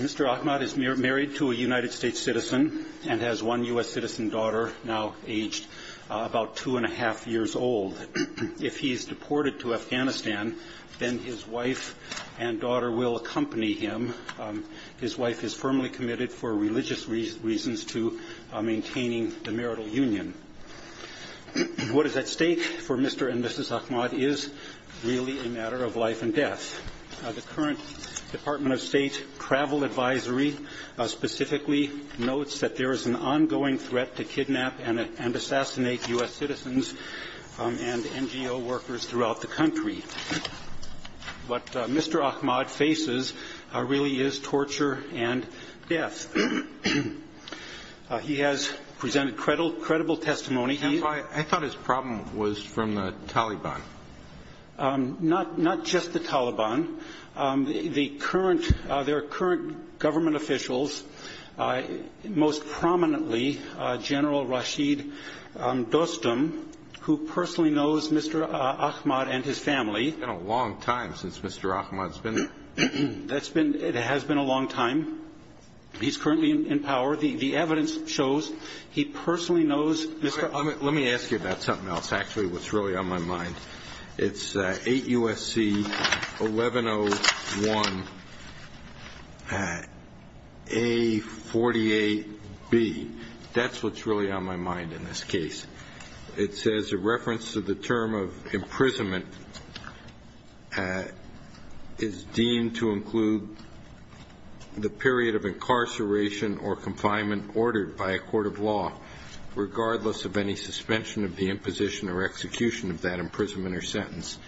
Mr. Ahmad is married to a United States citizen and has one U.S. citizen daughter, now aged about two and a half years old. If he's deported to Afghanistan, then his wife and daughter will accompany him. His wife is firmly committed for religious reasons to maintaining the marital union. What is at stake for Mr. and Mrs. Ahmad is really a matter of life and death. The current Department of State travel advisory specifically notes that there is an ongoing threat to kidnap and assassinate a U.S. citizen. What Mr. Ahmad faces really is torture and death. He has presented credible testimony. I thought his problem was from the Taliban. Not just the Taliban. There are current government officials, most prominently General Rashid Dostum, who personally knows Mr. Ahmad and his family. It's been a long time since Mr. Ahmad has been there. It has been a long time. He's currently in power. The evidence shows he personally knows Mr. Ahmad. Let me ask you about something else, actually, what's really on my mind. It's 8 U.S.C. 1101A48B. That's what's really on my mind in this case. It says a reference to the term of imprisonment is deemed to include the period of incarceration or confinement ordered by a court of law, regardless of any status. If there is a suspension of the imposition or execution of that imprisonment or sentence,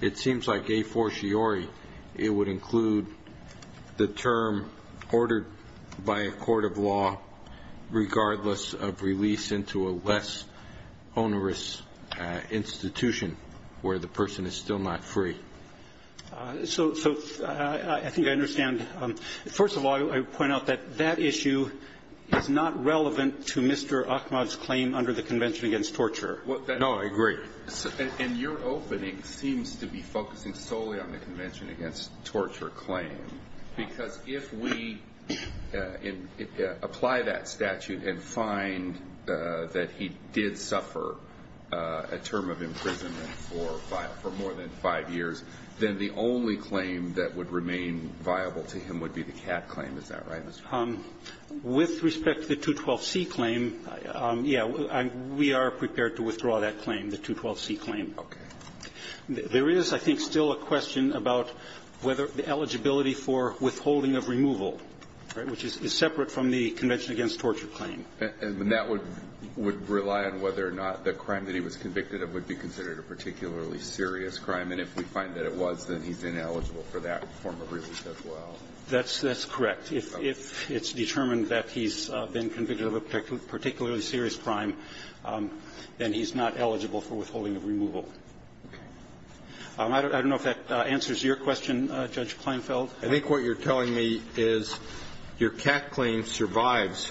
it seems like a fortiori it would include the term ordered by a court of law, regardless of release into a less onerous institution where the person is still not free. So I think I understand. First of all, I would point out that that issue is not relevant to Mr. Ahmad's claim under the Convention Against Torture. And your opening seems to be focusing solely on the Convention Against Torture claim, because if we apply that statute and find that he did suffer a term of imprisonment for more than five years, then the only claim that would remain viable to him would be the cat claim. Is that right, Mr. Dostum? Dostum, with respect to the 212C claim, yeah, we are prepared to withdraw that claim, the 212C claim. Okay. There is, I think, still a question about whether the eligibility for withholding of removal, right, which is separate from the Convention Against Torture claim. And that would rely on whether or not the crime that he was convicted of would be considered a particularly serious crime. And if we find that it was, then he's ineligible for that form of release as well. That's correct. If it's determined that he's been convicted of a particularly serious crime, then he's not eligible for withholding of removal. Okay. I don't know if that answers your question, Judge Kleinfeld. I think what you're telling me is your cat claim survives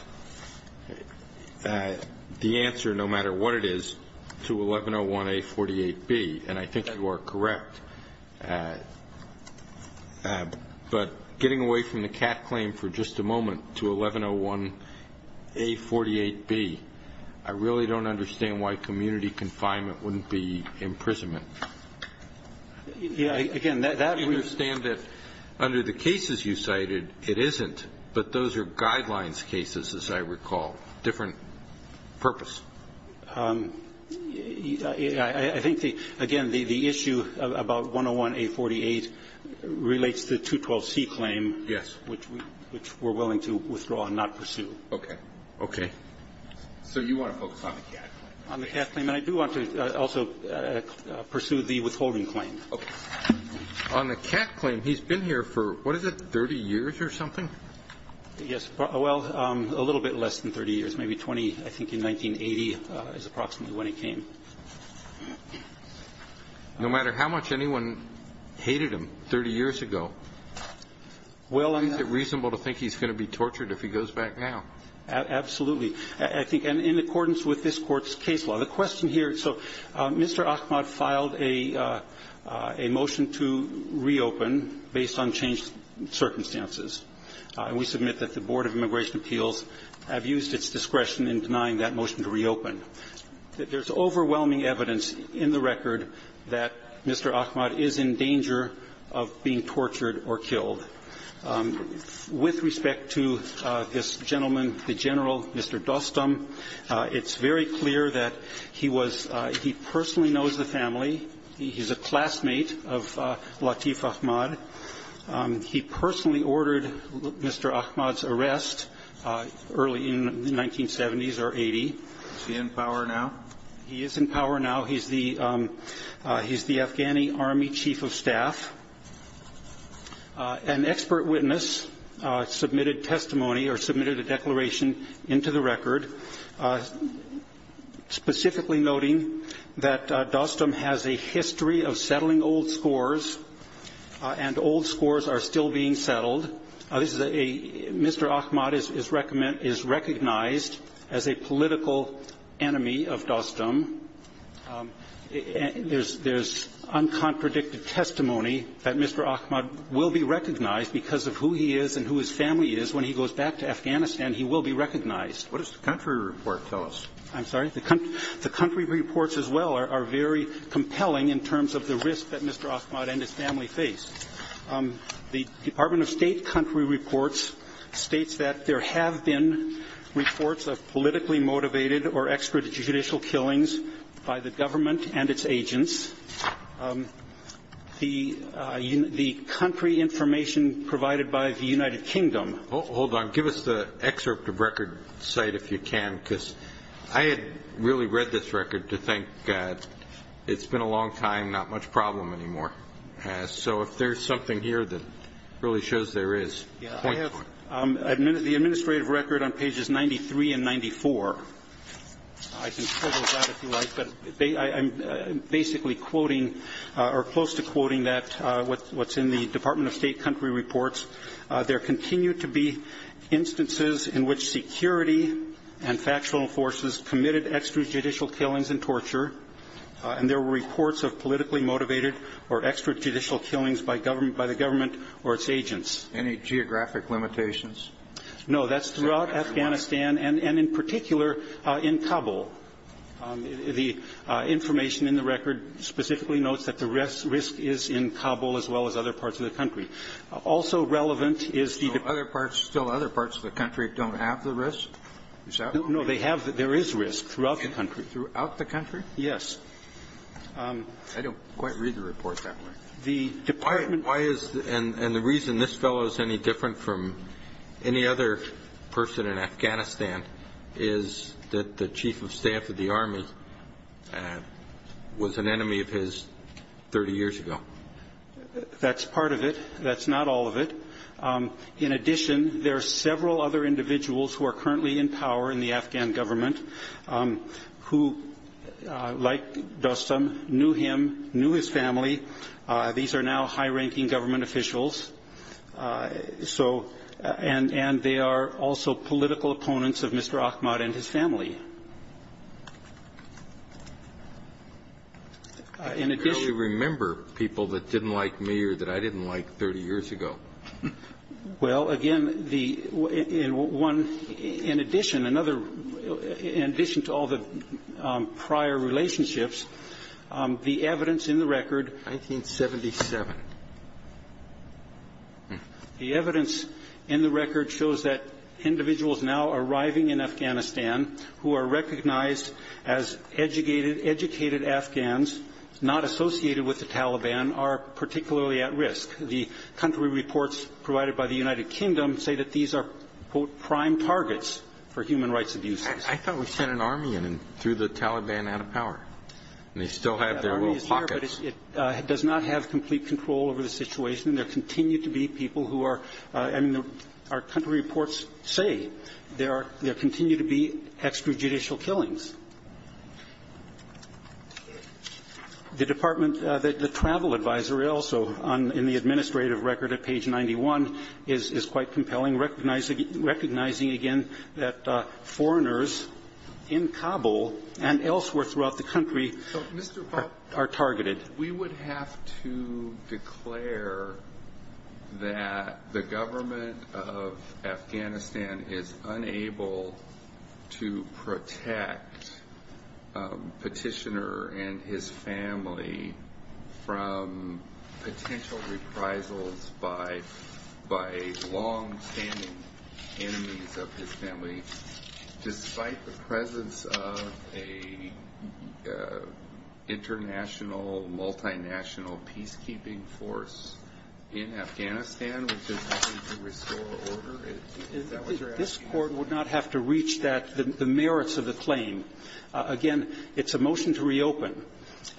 the answer, no matter what it is, to 1101A48B, and I think you are correct. But getting away from the cat claim for just a moment to 1101A48B, I really don't understand why community confinement wouldn't be imprisonment. Yeah. Again, that would be the case. I understand that under the cases you cited, it isn't, but those are guidelines cases, as I recall. Different purpose. I think, again, the issue about 101A48 relates to the 212C claim. Yes. Which we're willing to withdraw and not pursue. Okay. Okay. So you want to focus on the cat claim? On the cat claim. And I do want to also pursue the withholding claim. Okay. On the cat claim, he's been here for, what is it, 30 years or something? Yes. Well, a little bit less than 30 years. Maybe 20, I think, in 1980 is approximately when he came. No matter how much anyone hated him 30 years ago, is it reasonable to think he's going to be tortured if he goes back now? Absolutely. I think in accordance with this Court's case law. The question here. So Mr. Ahmad filed a motion to reopen based on changed circumstances. And we submit that the Board of Immigration Appeals have used its discretion in denying that motion to reopen. There's overwhelming evidence in the record that Mr. Ahmad is in danger of being tortured or killed. With respect to this gentleman, the General, Mr. Dostum, it's very clear that he was he personally knows the family. He's a classmate of Latif Ahmad. He personally ordered Mr. Ahmad's arrest early in the 1970s or 80. Is he in power now? He is in power now. He's the Afghani Army Chief of Staff. An expert witness submitted testimony or submitted a declaration into the record specifically noting that Dostum has a history of settling old scores and old scores are still being settled. This is a Mr. Ahmad is recognized as a political enemy of Dostum. There's uncontradicted testimony that Mr. Ahmad will be recognized because of who he is and who his family is. When he goes back to Afghanistan, he will be recognized. What does the country report tell us? I'm sorry? The country reports as well are very compelling in terms of the risk that Mr. Ahmad and his family faced. The Department of State country reports states that there have been reports of politically motivated or extrajudicial killings by the government and its agents. The country information provided by the United Kingdom. Hold on. Give us the excerpt of record site if you can because I had really read this record to think it's been a long time, not much problem anymore. So if there's something here that really shows there is. I have the administrative record on pages 93 and 94. I can pull those out if you like, but I'm basically quoting or close to quoting that what's in the Department of State country reports. There continue to be instances in which security and factual forces committed extrajudicial killings and torture, and there were reports of politically motivated or extrajudicial killings by the government or its agents. Any geographic limitations? No. That's throughout Afghanistan and in particular in Kabul. The information in the record specifically notes that the risk is in Kabul as well as other parts of the country. Also relevant is the other parts. Still other parts of the country don't have the risk. No, they have. There is risk throughout the country. Throughout the country? Yes. I don't quite read the report that way. The department. Why is and the reason this fellow is any different from any other person in Afghanistan is that the chief of staff of the army was an enemy of his 30 years ago. That's part of it. That's not all of it. In addition, there are several other individuals who are currently in power in the Afghan government who, like Dostum, knew him, knew his family. These are now high-ranking government officials. And they are also political opponents of Mr. Ahmad and his family. I can barely remember people that didn't like me or that I didn't like 30 years ago. Well, again, in addition to all the prior relationships, the evidence in the record. 1977. The evidence in the record shows that individuals now arriving in Afghanistan who are recognized as educated Afghans, not associated with the Taliban, are particularly at risk. The country reports provided by the United Kingdom say that these are, quote, prime targets for human rights abuses. I thought we sent an army in and threw the Taliban out of power. And they still have their little pockets. That army is here, but it does not have complete control over the situation. There continue to be people who are – I mean, our country reports say there are – there continue to be extrajudicial killings. The Department – the Travel Advisory also, in the administrative record at page 91, is quite compelling, recognizing, again, that foreigners in Kabul and elsewhere throughout the country are targeted. We would have to declare that the government of Afghanistan is unable to protect petitioner and his family from potential reprisals by longstanding enemies of his family, despite the presence of an international, multinational peacekeeping force in Afghanistan, which is needed to restore order? Is that what you're asking? This Court would not have to reach that – the merits of the claim. Again, it's a motion to reopen.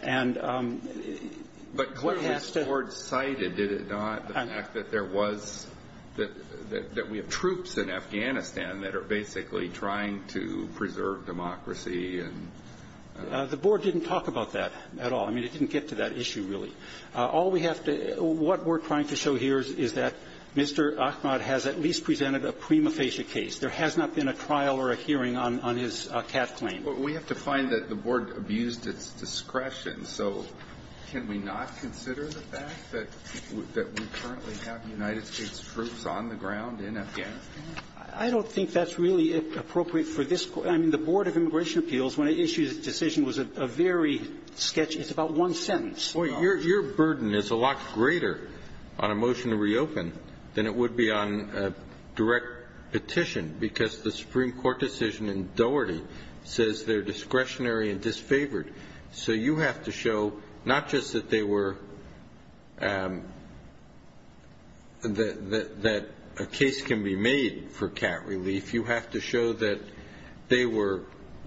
And what has to – But what has the Court cited, did it not? The fact that there was – that we have troops in Afghanistan that are basically trying to preserve democracy and – The Board didn't talk about that at all. I mean, it didn't get to that issue, really. All we have to – what we're trying to show here is that Mr. Ahmad has at least presented a prima facie case. There has not been a trial or a hearing on his cat claim. We have to find that the Board abused its discretion. So can we not consider the fact that we currently have United States troops on the ground in Afghanistan? I don't think that's really appropriate for this – I mean, the Board of Immigration Appeals, when it issued its decision, was a very sketchy – it's about one sentence. Your burden is a lot greater on a motion to reopen than it would be on a direct petition, because the Supreme Court decision in Doherty says they're discretionary and disfavored. So you have to show not just that they were – that a case can be made for cat relief. You have to show that they were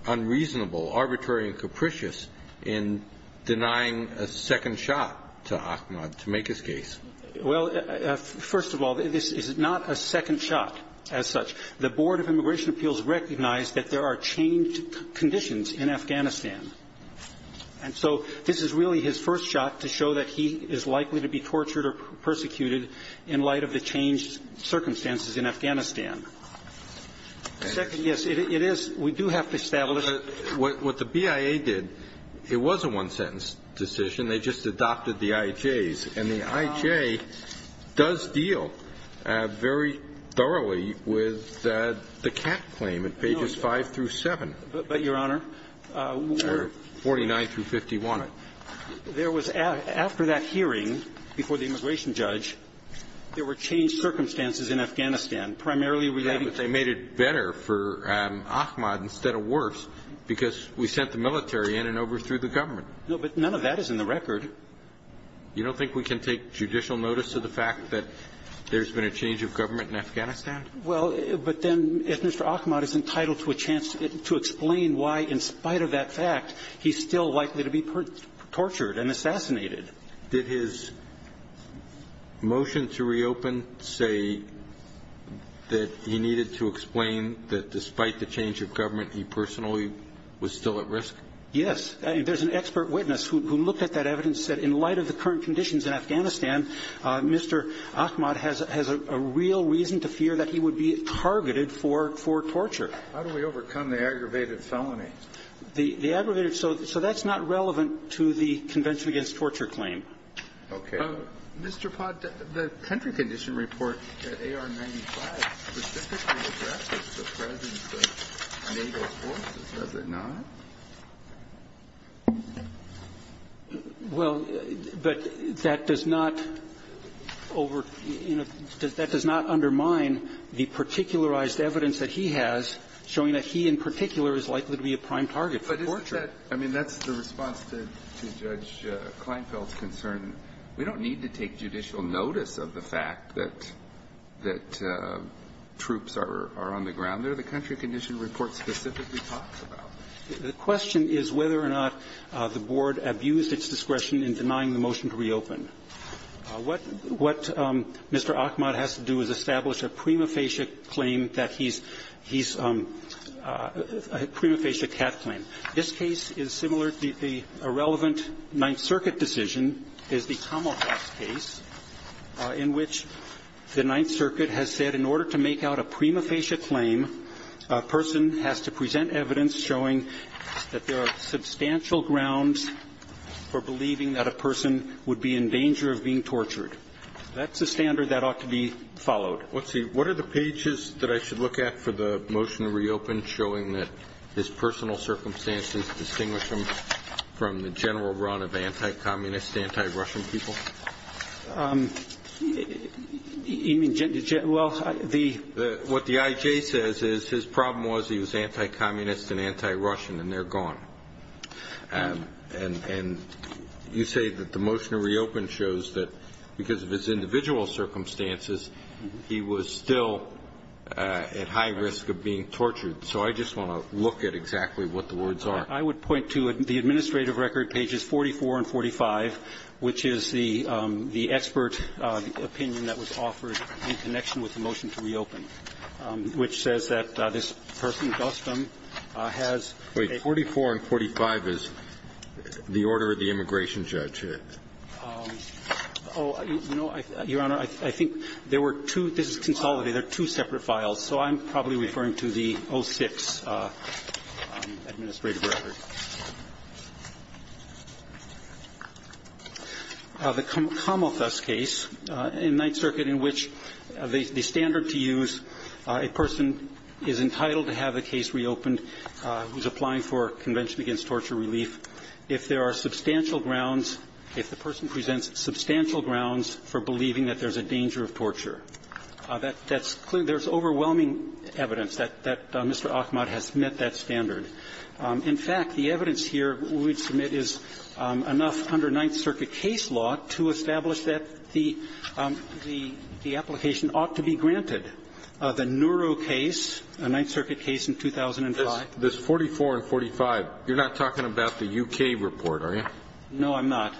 unreasonable, arbitrary, and capricious in denying a second shot to Ahmad to make his case. Well, first of all, this is not a second shot as such. The Board of Immigration Appeals recognized that there are changed conditions in Afghanistan. And so this is really his first shot to show that he is likely to be tortured or persecuted in light of the changed circumstances in Afghanistan. Second, yes, it is – we do have to establish – But what the BIA did, it was a one-sentence decision. They just adopted the IJs. And the IJ does deal very thoroughly with the cat claim at pages 5 through 7. But, Your Honor – Or 49 through 51. There was – after that hearing before the immigration judge, there were changed circumstances in Afghanistan, primarily relating to – Yeah, but they made it better for Ahmad instead of worse, because we sent the military in and overthrew the government. No, but none of that is in the record. You don't think we can take judicial notice of the fact that there's been a change of government in Afghanistan? Well, but then if Mr. Ahmad is entitled to a chance to explain why, in spite of that fact, he's still likely to be tortured and assassinated. Did his motion to reopen say that he needed to explain that despite the change of government, he personally was still at risk? Yes. There's an expert witness who looked at that evidence and said in light of the current conditions in Afghanistan, Mr. Ahmad has a real reason to fear that he would be targeted for torture. How do we overcome the aggravated felony? The aggravated – so that's not relevant to the Convention Against Torture claim. Okay. Mr. Pott, the Tenter Condition Report, AR-95, specifically addresses the presence of an able force. Does it not? Well, but that does not over – you know, that does not undermine the particularized evidence that he has showing that he in particular is likely to be a prime target for torture. But is that – I mean, that's the response to Judge Kleinfeld's concern. We don't need to take judicial notice of the fact that troops are on the ground under the country condition report specifically talks about. The question is whether or not the Board abused its discretion in denying the motion to reopen. What Mr. Ahmad has to do is establish a prima facie claim that he's – he's – a prima facie cat claim. This case is similar. The irrelevant Ninth Circuit decision is the Commonwealth case in which the Ninth Circuit has established a prima facie claim a person has to present evidence showing that there are substantial grounds for believing that a person would be in danger of being tortured. That's a standard that ought to be followed. Let's see. What are the pages that I should look at for the motion to reopen showing that his personal circumstances distinguish him from the general run of anti-communist, anti-Russian people? Well, the – What the IJ says is his problem was he was anti-communist and anti-Russian, and they're gone. And you say that the motion to reopen shows that because of his individual circumstances, he was still at high risk of being tortured. So I just want to look at exactly what the words are. I would point to the administrative record, pages 44 and 45, which is the – the expert opinion that was offered in connection with the motion to reopen, which says that this person, Gustom, has a – Wait. 44 and 45 is the order of the immigration judge. Oh, no, Your Honor. I think there were two – this is consolidated. They're two separate files. So I'm probably referring to the 06 administrative record. The Kamalthus case in Ninth Circuit in which the standard to use a person is entitled to have the case reopened who's applying for Convention Against Torture Relief if there are substantial grounds – if the person presents substantial grounds that Mr. Achmad has met that standard. In fact, the evidence here we would submit is enough under Ninth Circuit case law to establish that the – the application ought to be granted. The Nuro case, a Ninth Circuit case in 2005. This 44 and 45, you're not talking about the U.K. report, are you? No, I'm not.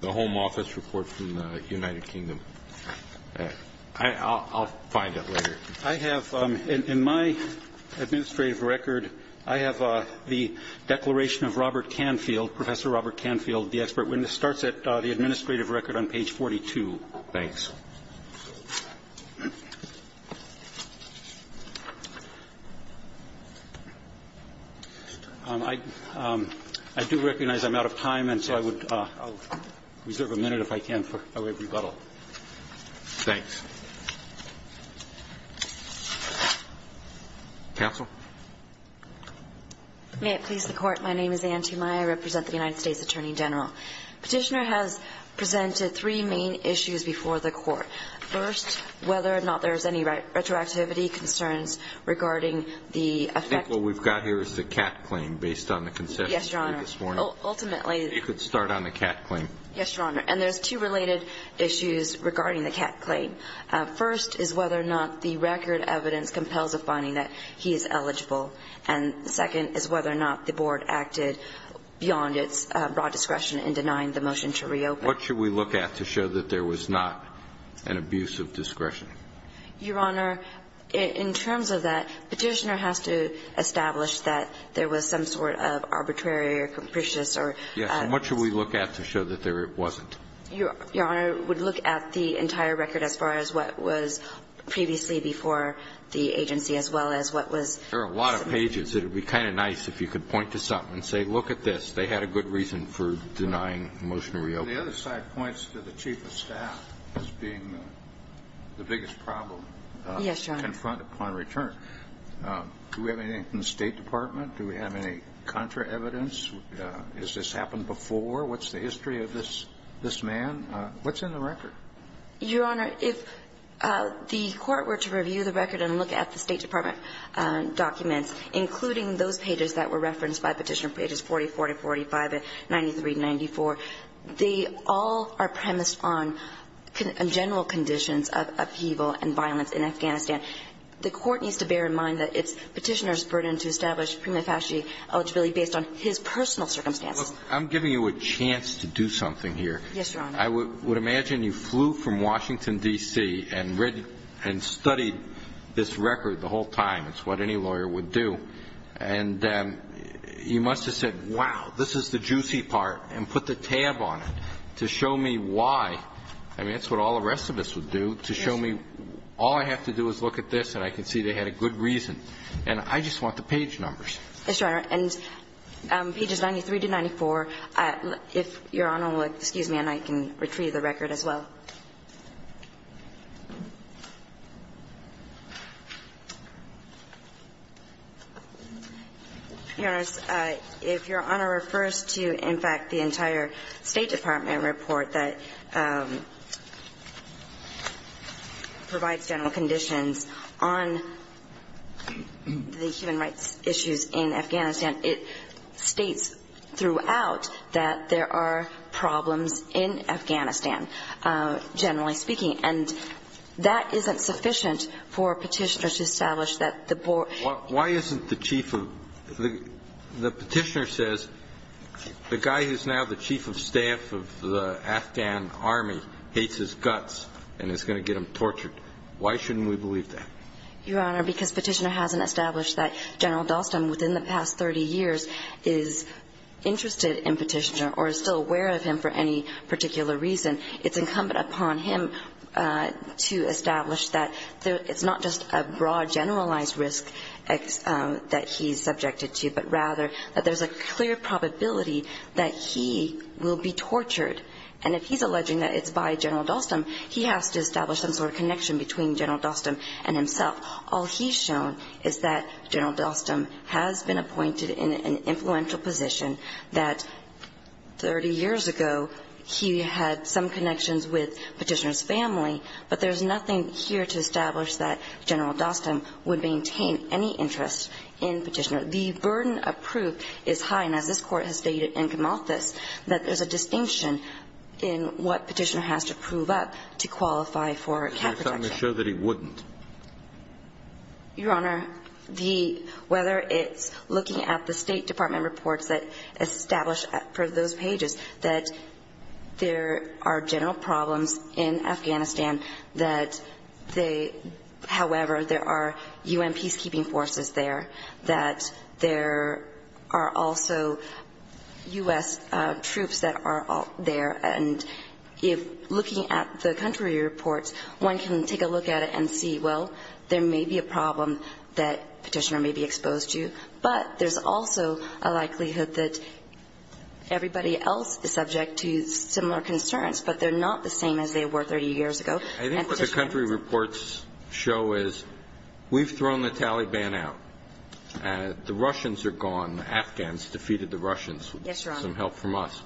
The Home Office report from the United Kingdom. I'll find it later. I have – in my administrative record, I have the declaration of Robert Canfield, Professor Robert Canfield, the expert witness. It starts at the administrative record on page 42. Thanks. I do recognize I'm out of time, and so I would reserve a minute, if I can, for a rebuttal. Thanks. Counsel? May it please the Court. My name is Anne T. Meyer. I represent the United States Attorney General. Petitioner has presented three main issues before the Court. First, whether or not there is any retroactivity, concerns regarding the effect of the I think what we've got here is the Catt claim based on the concession. Yes, Your Honor. Ultimately, you could start on the Catt claim. Yes, Your Honor. And there's two related issues regarding the Catt claim. First is whether or not the record evidence compels a finding that he is eligible. And the second is whether or not the board acted beyond its broad discretion in denying the motion to reopen. What should we look at to show that there was not an abuse of discretion? Your Honor, in terms of that, Petitioner has to establish that there was some sort of arbitrary or capricious or Yes. And what should we look at to show that there wasn't? Your Honor, we'd look at the entire record as far as what was previously before the agency, as well as what was There are a lot of pages. It would be kind of nice if you could point to something and say, look at this. They had a good reason for denying the motion to reopen. The other side points to the chief of staff as being the biggest problem. Yes, Your Honor. Confront upon return. Do we have anything from the State Department? Do we have any contra evidence? Has this happened before? What's the history of this man? What's in the record? Your Honor, if the Court were to review the record and look at the State Department, the State Department documents, including those pages that were referenced by Petitioner, pages 44 to 45 and 93 to 94, they all are premised on general conditions of upheaval and violence in Afghanistan. The Court needs to bear in mind that it's Petitioner's burden to establish prima facie eligibility based on his personal circumstances. I'm giving you a chance to do something here. Yes, Your Honor. I would imagine you flew from Washington, D.C., and read and studied this record the whole time. It's what any lawyer would do. And you must have said, wow, this is the juicy part, and put the tab on it to show me why. I mean, that's what all the rest of us would do, to show me all I have to do is look at this and I can see they had a good reason. And I just want the page numbers. Yes, Your Honor. And pages 93 to 94, if Your Honor will excuse me, and I can retrieve the record as well. Your Honor, if Your Honor refers to, in fact, the entire State Department report that provides general conditions on the human rights issues in Afghanistan, it states throughout that there are problems in Afghanistan. Generally speaking. And that isn't sufficient for Petitioner to establish that the board ---- Why isn't the chief of the ---- the Petitioner says the guy who's now the chief of staff of the Afghan army hates his guts and is going to get him tortured. Why shouldn't we believe that? Your Honor, because Petitioner hasn't established that General Dalston, within the past 30 years, is interested in Petitioner or is still aware of him for any particular reason, it's incumbent upon him to establish that it's not just a broad generalized risk that he's subjected to, but rather that there's a clear probability that he will be tortured. And if he's alleging that it's by General Dalston, he has to establish some sort of connection between General Dalston and himself. All he's shown is that General Dalston has been appointed in an influential position, that 30 years ago he had some connections with Petitioner's family, but there's nothing here to establish that General Dalston would maintain any interest in Petitioner. The burden of proof is high, and as this Court has stated in Camalthus, that there's a distinction in what Petitioner has to prove up to qualify for cap protection. I'm assured that he wouldn't. Your Honor, the – whether it's looking at the State Department reports that establish for those pages that there are general problems in Afghanistan, that they – however, there are U.N. peacekeeping forces there, that there are also U.S. troops that are there, and if – looking at the country reports, one can take a look at it and see well, there may be a problem that Petitioner may be exposed to. But there's also a likelihood that everybody else is subject to similar concerns, but they're not the same as they were 30 years ago. I think what the country reports show is we've thrown the Taliban out. The Russians are gone. The Afghans defeated the Russians. Yes, Your Honor. With some help from us.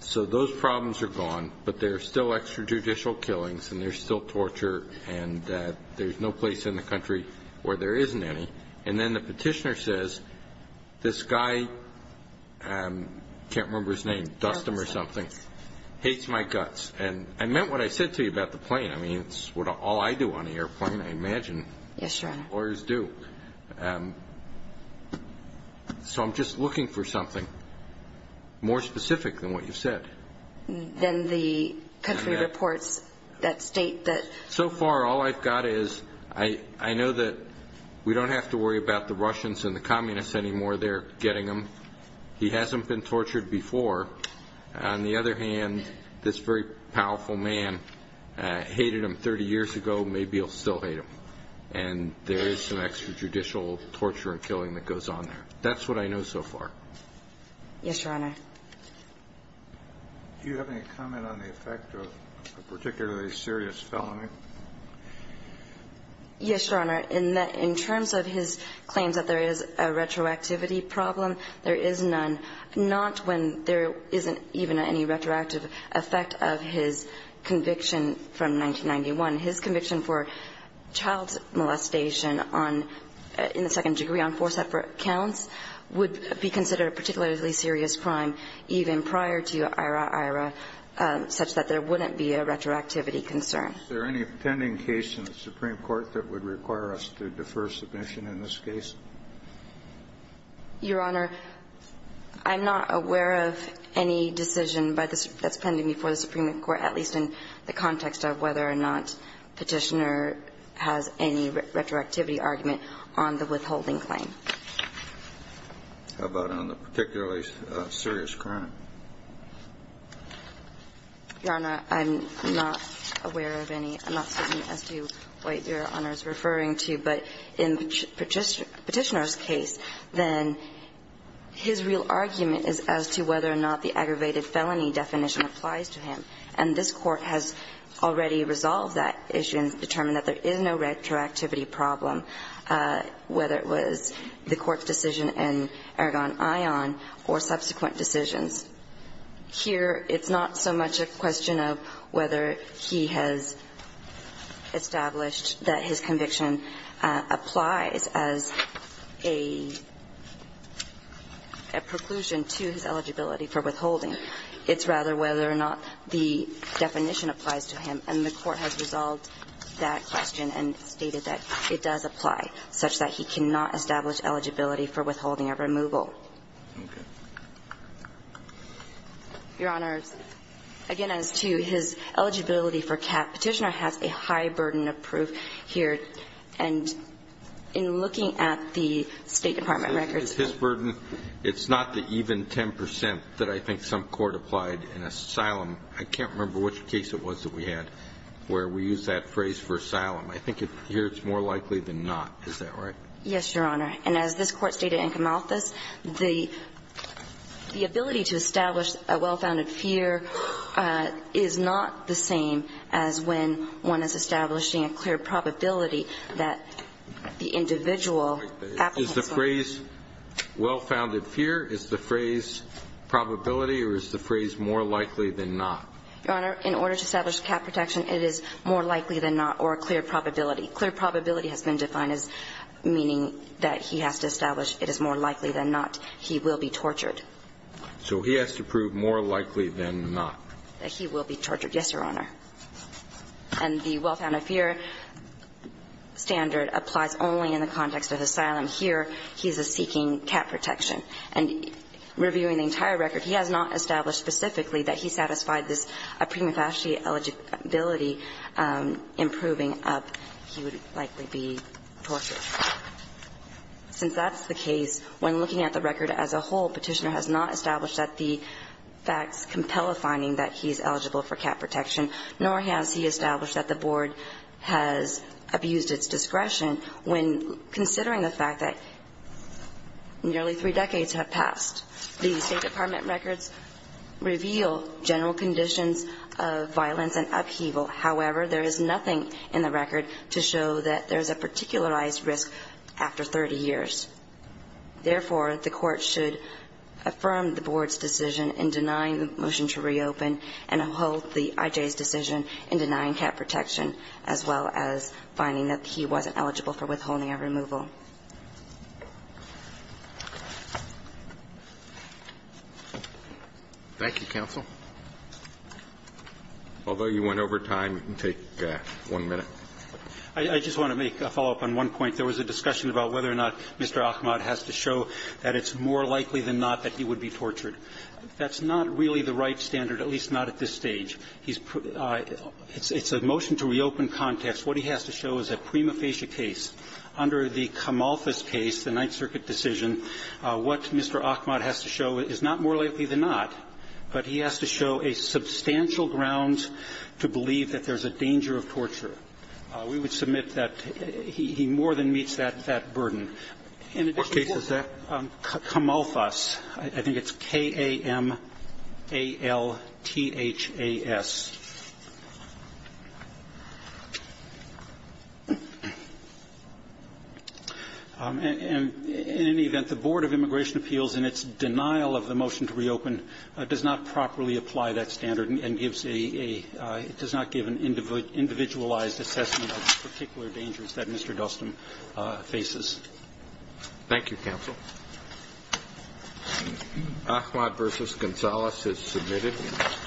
So those problems are gone, but there are still extrajudicial killings, and there's still torture, and there's no place in the country where there isn't any. And then the Petitioner says, this guy – I can't remember his name, Dustin or something – hates my guts. And I meant what I said to you about the plane. I mean, it's all I do on an airplane, I imagine. Yes, Your Honor. Lawyers do. So I'm just looking for something more specific than what you've said. Than the country reports that state that – So far, all I've got is I know that we don't have to worry about the Russians and the communists anymore. They're getting them. He hasn't been tortured before. On the other hand, this very powerful man hated him 30 years ago. Maybe he'll still hate him. And there is some extrajudicial torture and killing that goes on there. That's what I know so far. Yes, Your Honor. Do you have any comment on the effect of a particularly serious felony? Yes, Your Honor. In terms of his claims that there is a retroactivity problem, there is none. Not when there isn't even any retroactive effect of his conviction from 1991. His conviction for child molestation on – in the second degree on four separate counts would be considered a particularly serious crime even prior to Ira-Ira such that there wouldn't be a retroactivity concern. Is there any pending case in the Supreme Court that would require us to defer submission in this case? Your Honor, I'm not aware of any decision that's pending before the Supreme Court, at least in the context of whether or not Petitioner has any retroactivity argument on the withholding claim. How about on the particularly serious crime? Your Honor, I'm not aware of any. I'm not certain as to what Your Honor is referring to. But in Petitioner's case, then, his real argument is as to whether or not the aggravated felony definition applies to him. And this Court has already resolved that issue and determined that there is no retroactivity problem, whether it was the Court's decision in Aragon Ion or subsequent decisions. Here, it's not so much a question of whether he has established that his conviction applies as a preclusion to his eligibility for withholding. It's rather whether or not the definition applies to him. And the Court has resolved that question and stated that it does apply, such that he cannot establish eligibility for withholding or removal. Okay. Your Honor, again, as to his eligibility for cap, Petitioner has a high burden of proof here. And in looking at the State Department records, his burden, it's not the even 10 percent that I think some court applied in asylum. I can't remember which case it was that we had where we used that phrase for asylum. I think here it's more likely than not. Is that right? Yes, Your Honor. And as this Court stated in Camalthus, the ability to establish a well-founded fear is not the same as when one is establishing a clear probability that the individual applicants are. Is the phrase well-founded fear, is the phrase probability, or is the phrase more likely than not? Your Honor, in order to establish cap protection, it is more likely than not or a clear probability. Clear probability has been defined as meaning that he has to establish it is more likely than not he will be tortured. So he has to prove more likely than not. That he will be tortured, yes, Your Honor. And the well-founded fear standard applies only in the context of asylum. Here, he's seeking cap protection. And reviewing the entire record, he has not established specifically that he satisfied this prima facie eligibility improving up, he would likely be tortured. Since that's the case, when looking at the record as a whole, Petitioner has not established that the facts compel a finding that he's eligible for cap protection, nor has he established that the Board has abused its discretion when considering the fact that nearly three decades have passed. The State Department records reveal general conditions of violence and upheaval. However, there is nothing in the record to show that there is a particularized risk after 30 years. Therefore, the Court should affirm the Board's decision in denying the motion to reopen and uphold the IJ's decision in denying cap protection, as well as finding that he wasn't eligible for withholding a removal. Roberts. Thank you, counsel. Although you went over time, take one minute. I just want to make a follow-up on one point. There was a discussion about whether or not Mr. Ahmad has to show that it's more likely than not that he would be tortured. That's not really the right standard, at least not at this stage. It's a motion to reopen context. What he has to show is a prima facie case. Under the Kamalfas case, the Ninth Circuit decision, what Mr. Ahmad has to show is not more likely than not, but he has to show a substantial ground to believe that there's a danger of torture. We would submit that he more than meets that burden. In this case, it's Kamalfas. I think it's K-A-M-A-L-T-H-A-S. And in any event, the Board of Immigration Appeals, in its denial of the motion to reopen, does not properly apply that standard and gives a – it does not give an individualized assessment of the particular dangers that Mr. Dustin faces. Thank you, counsel. Ahmad v. Gonzales is submitted.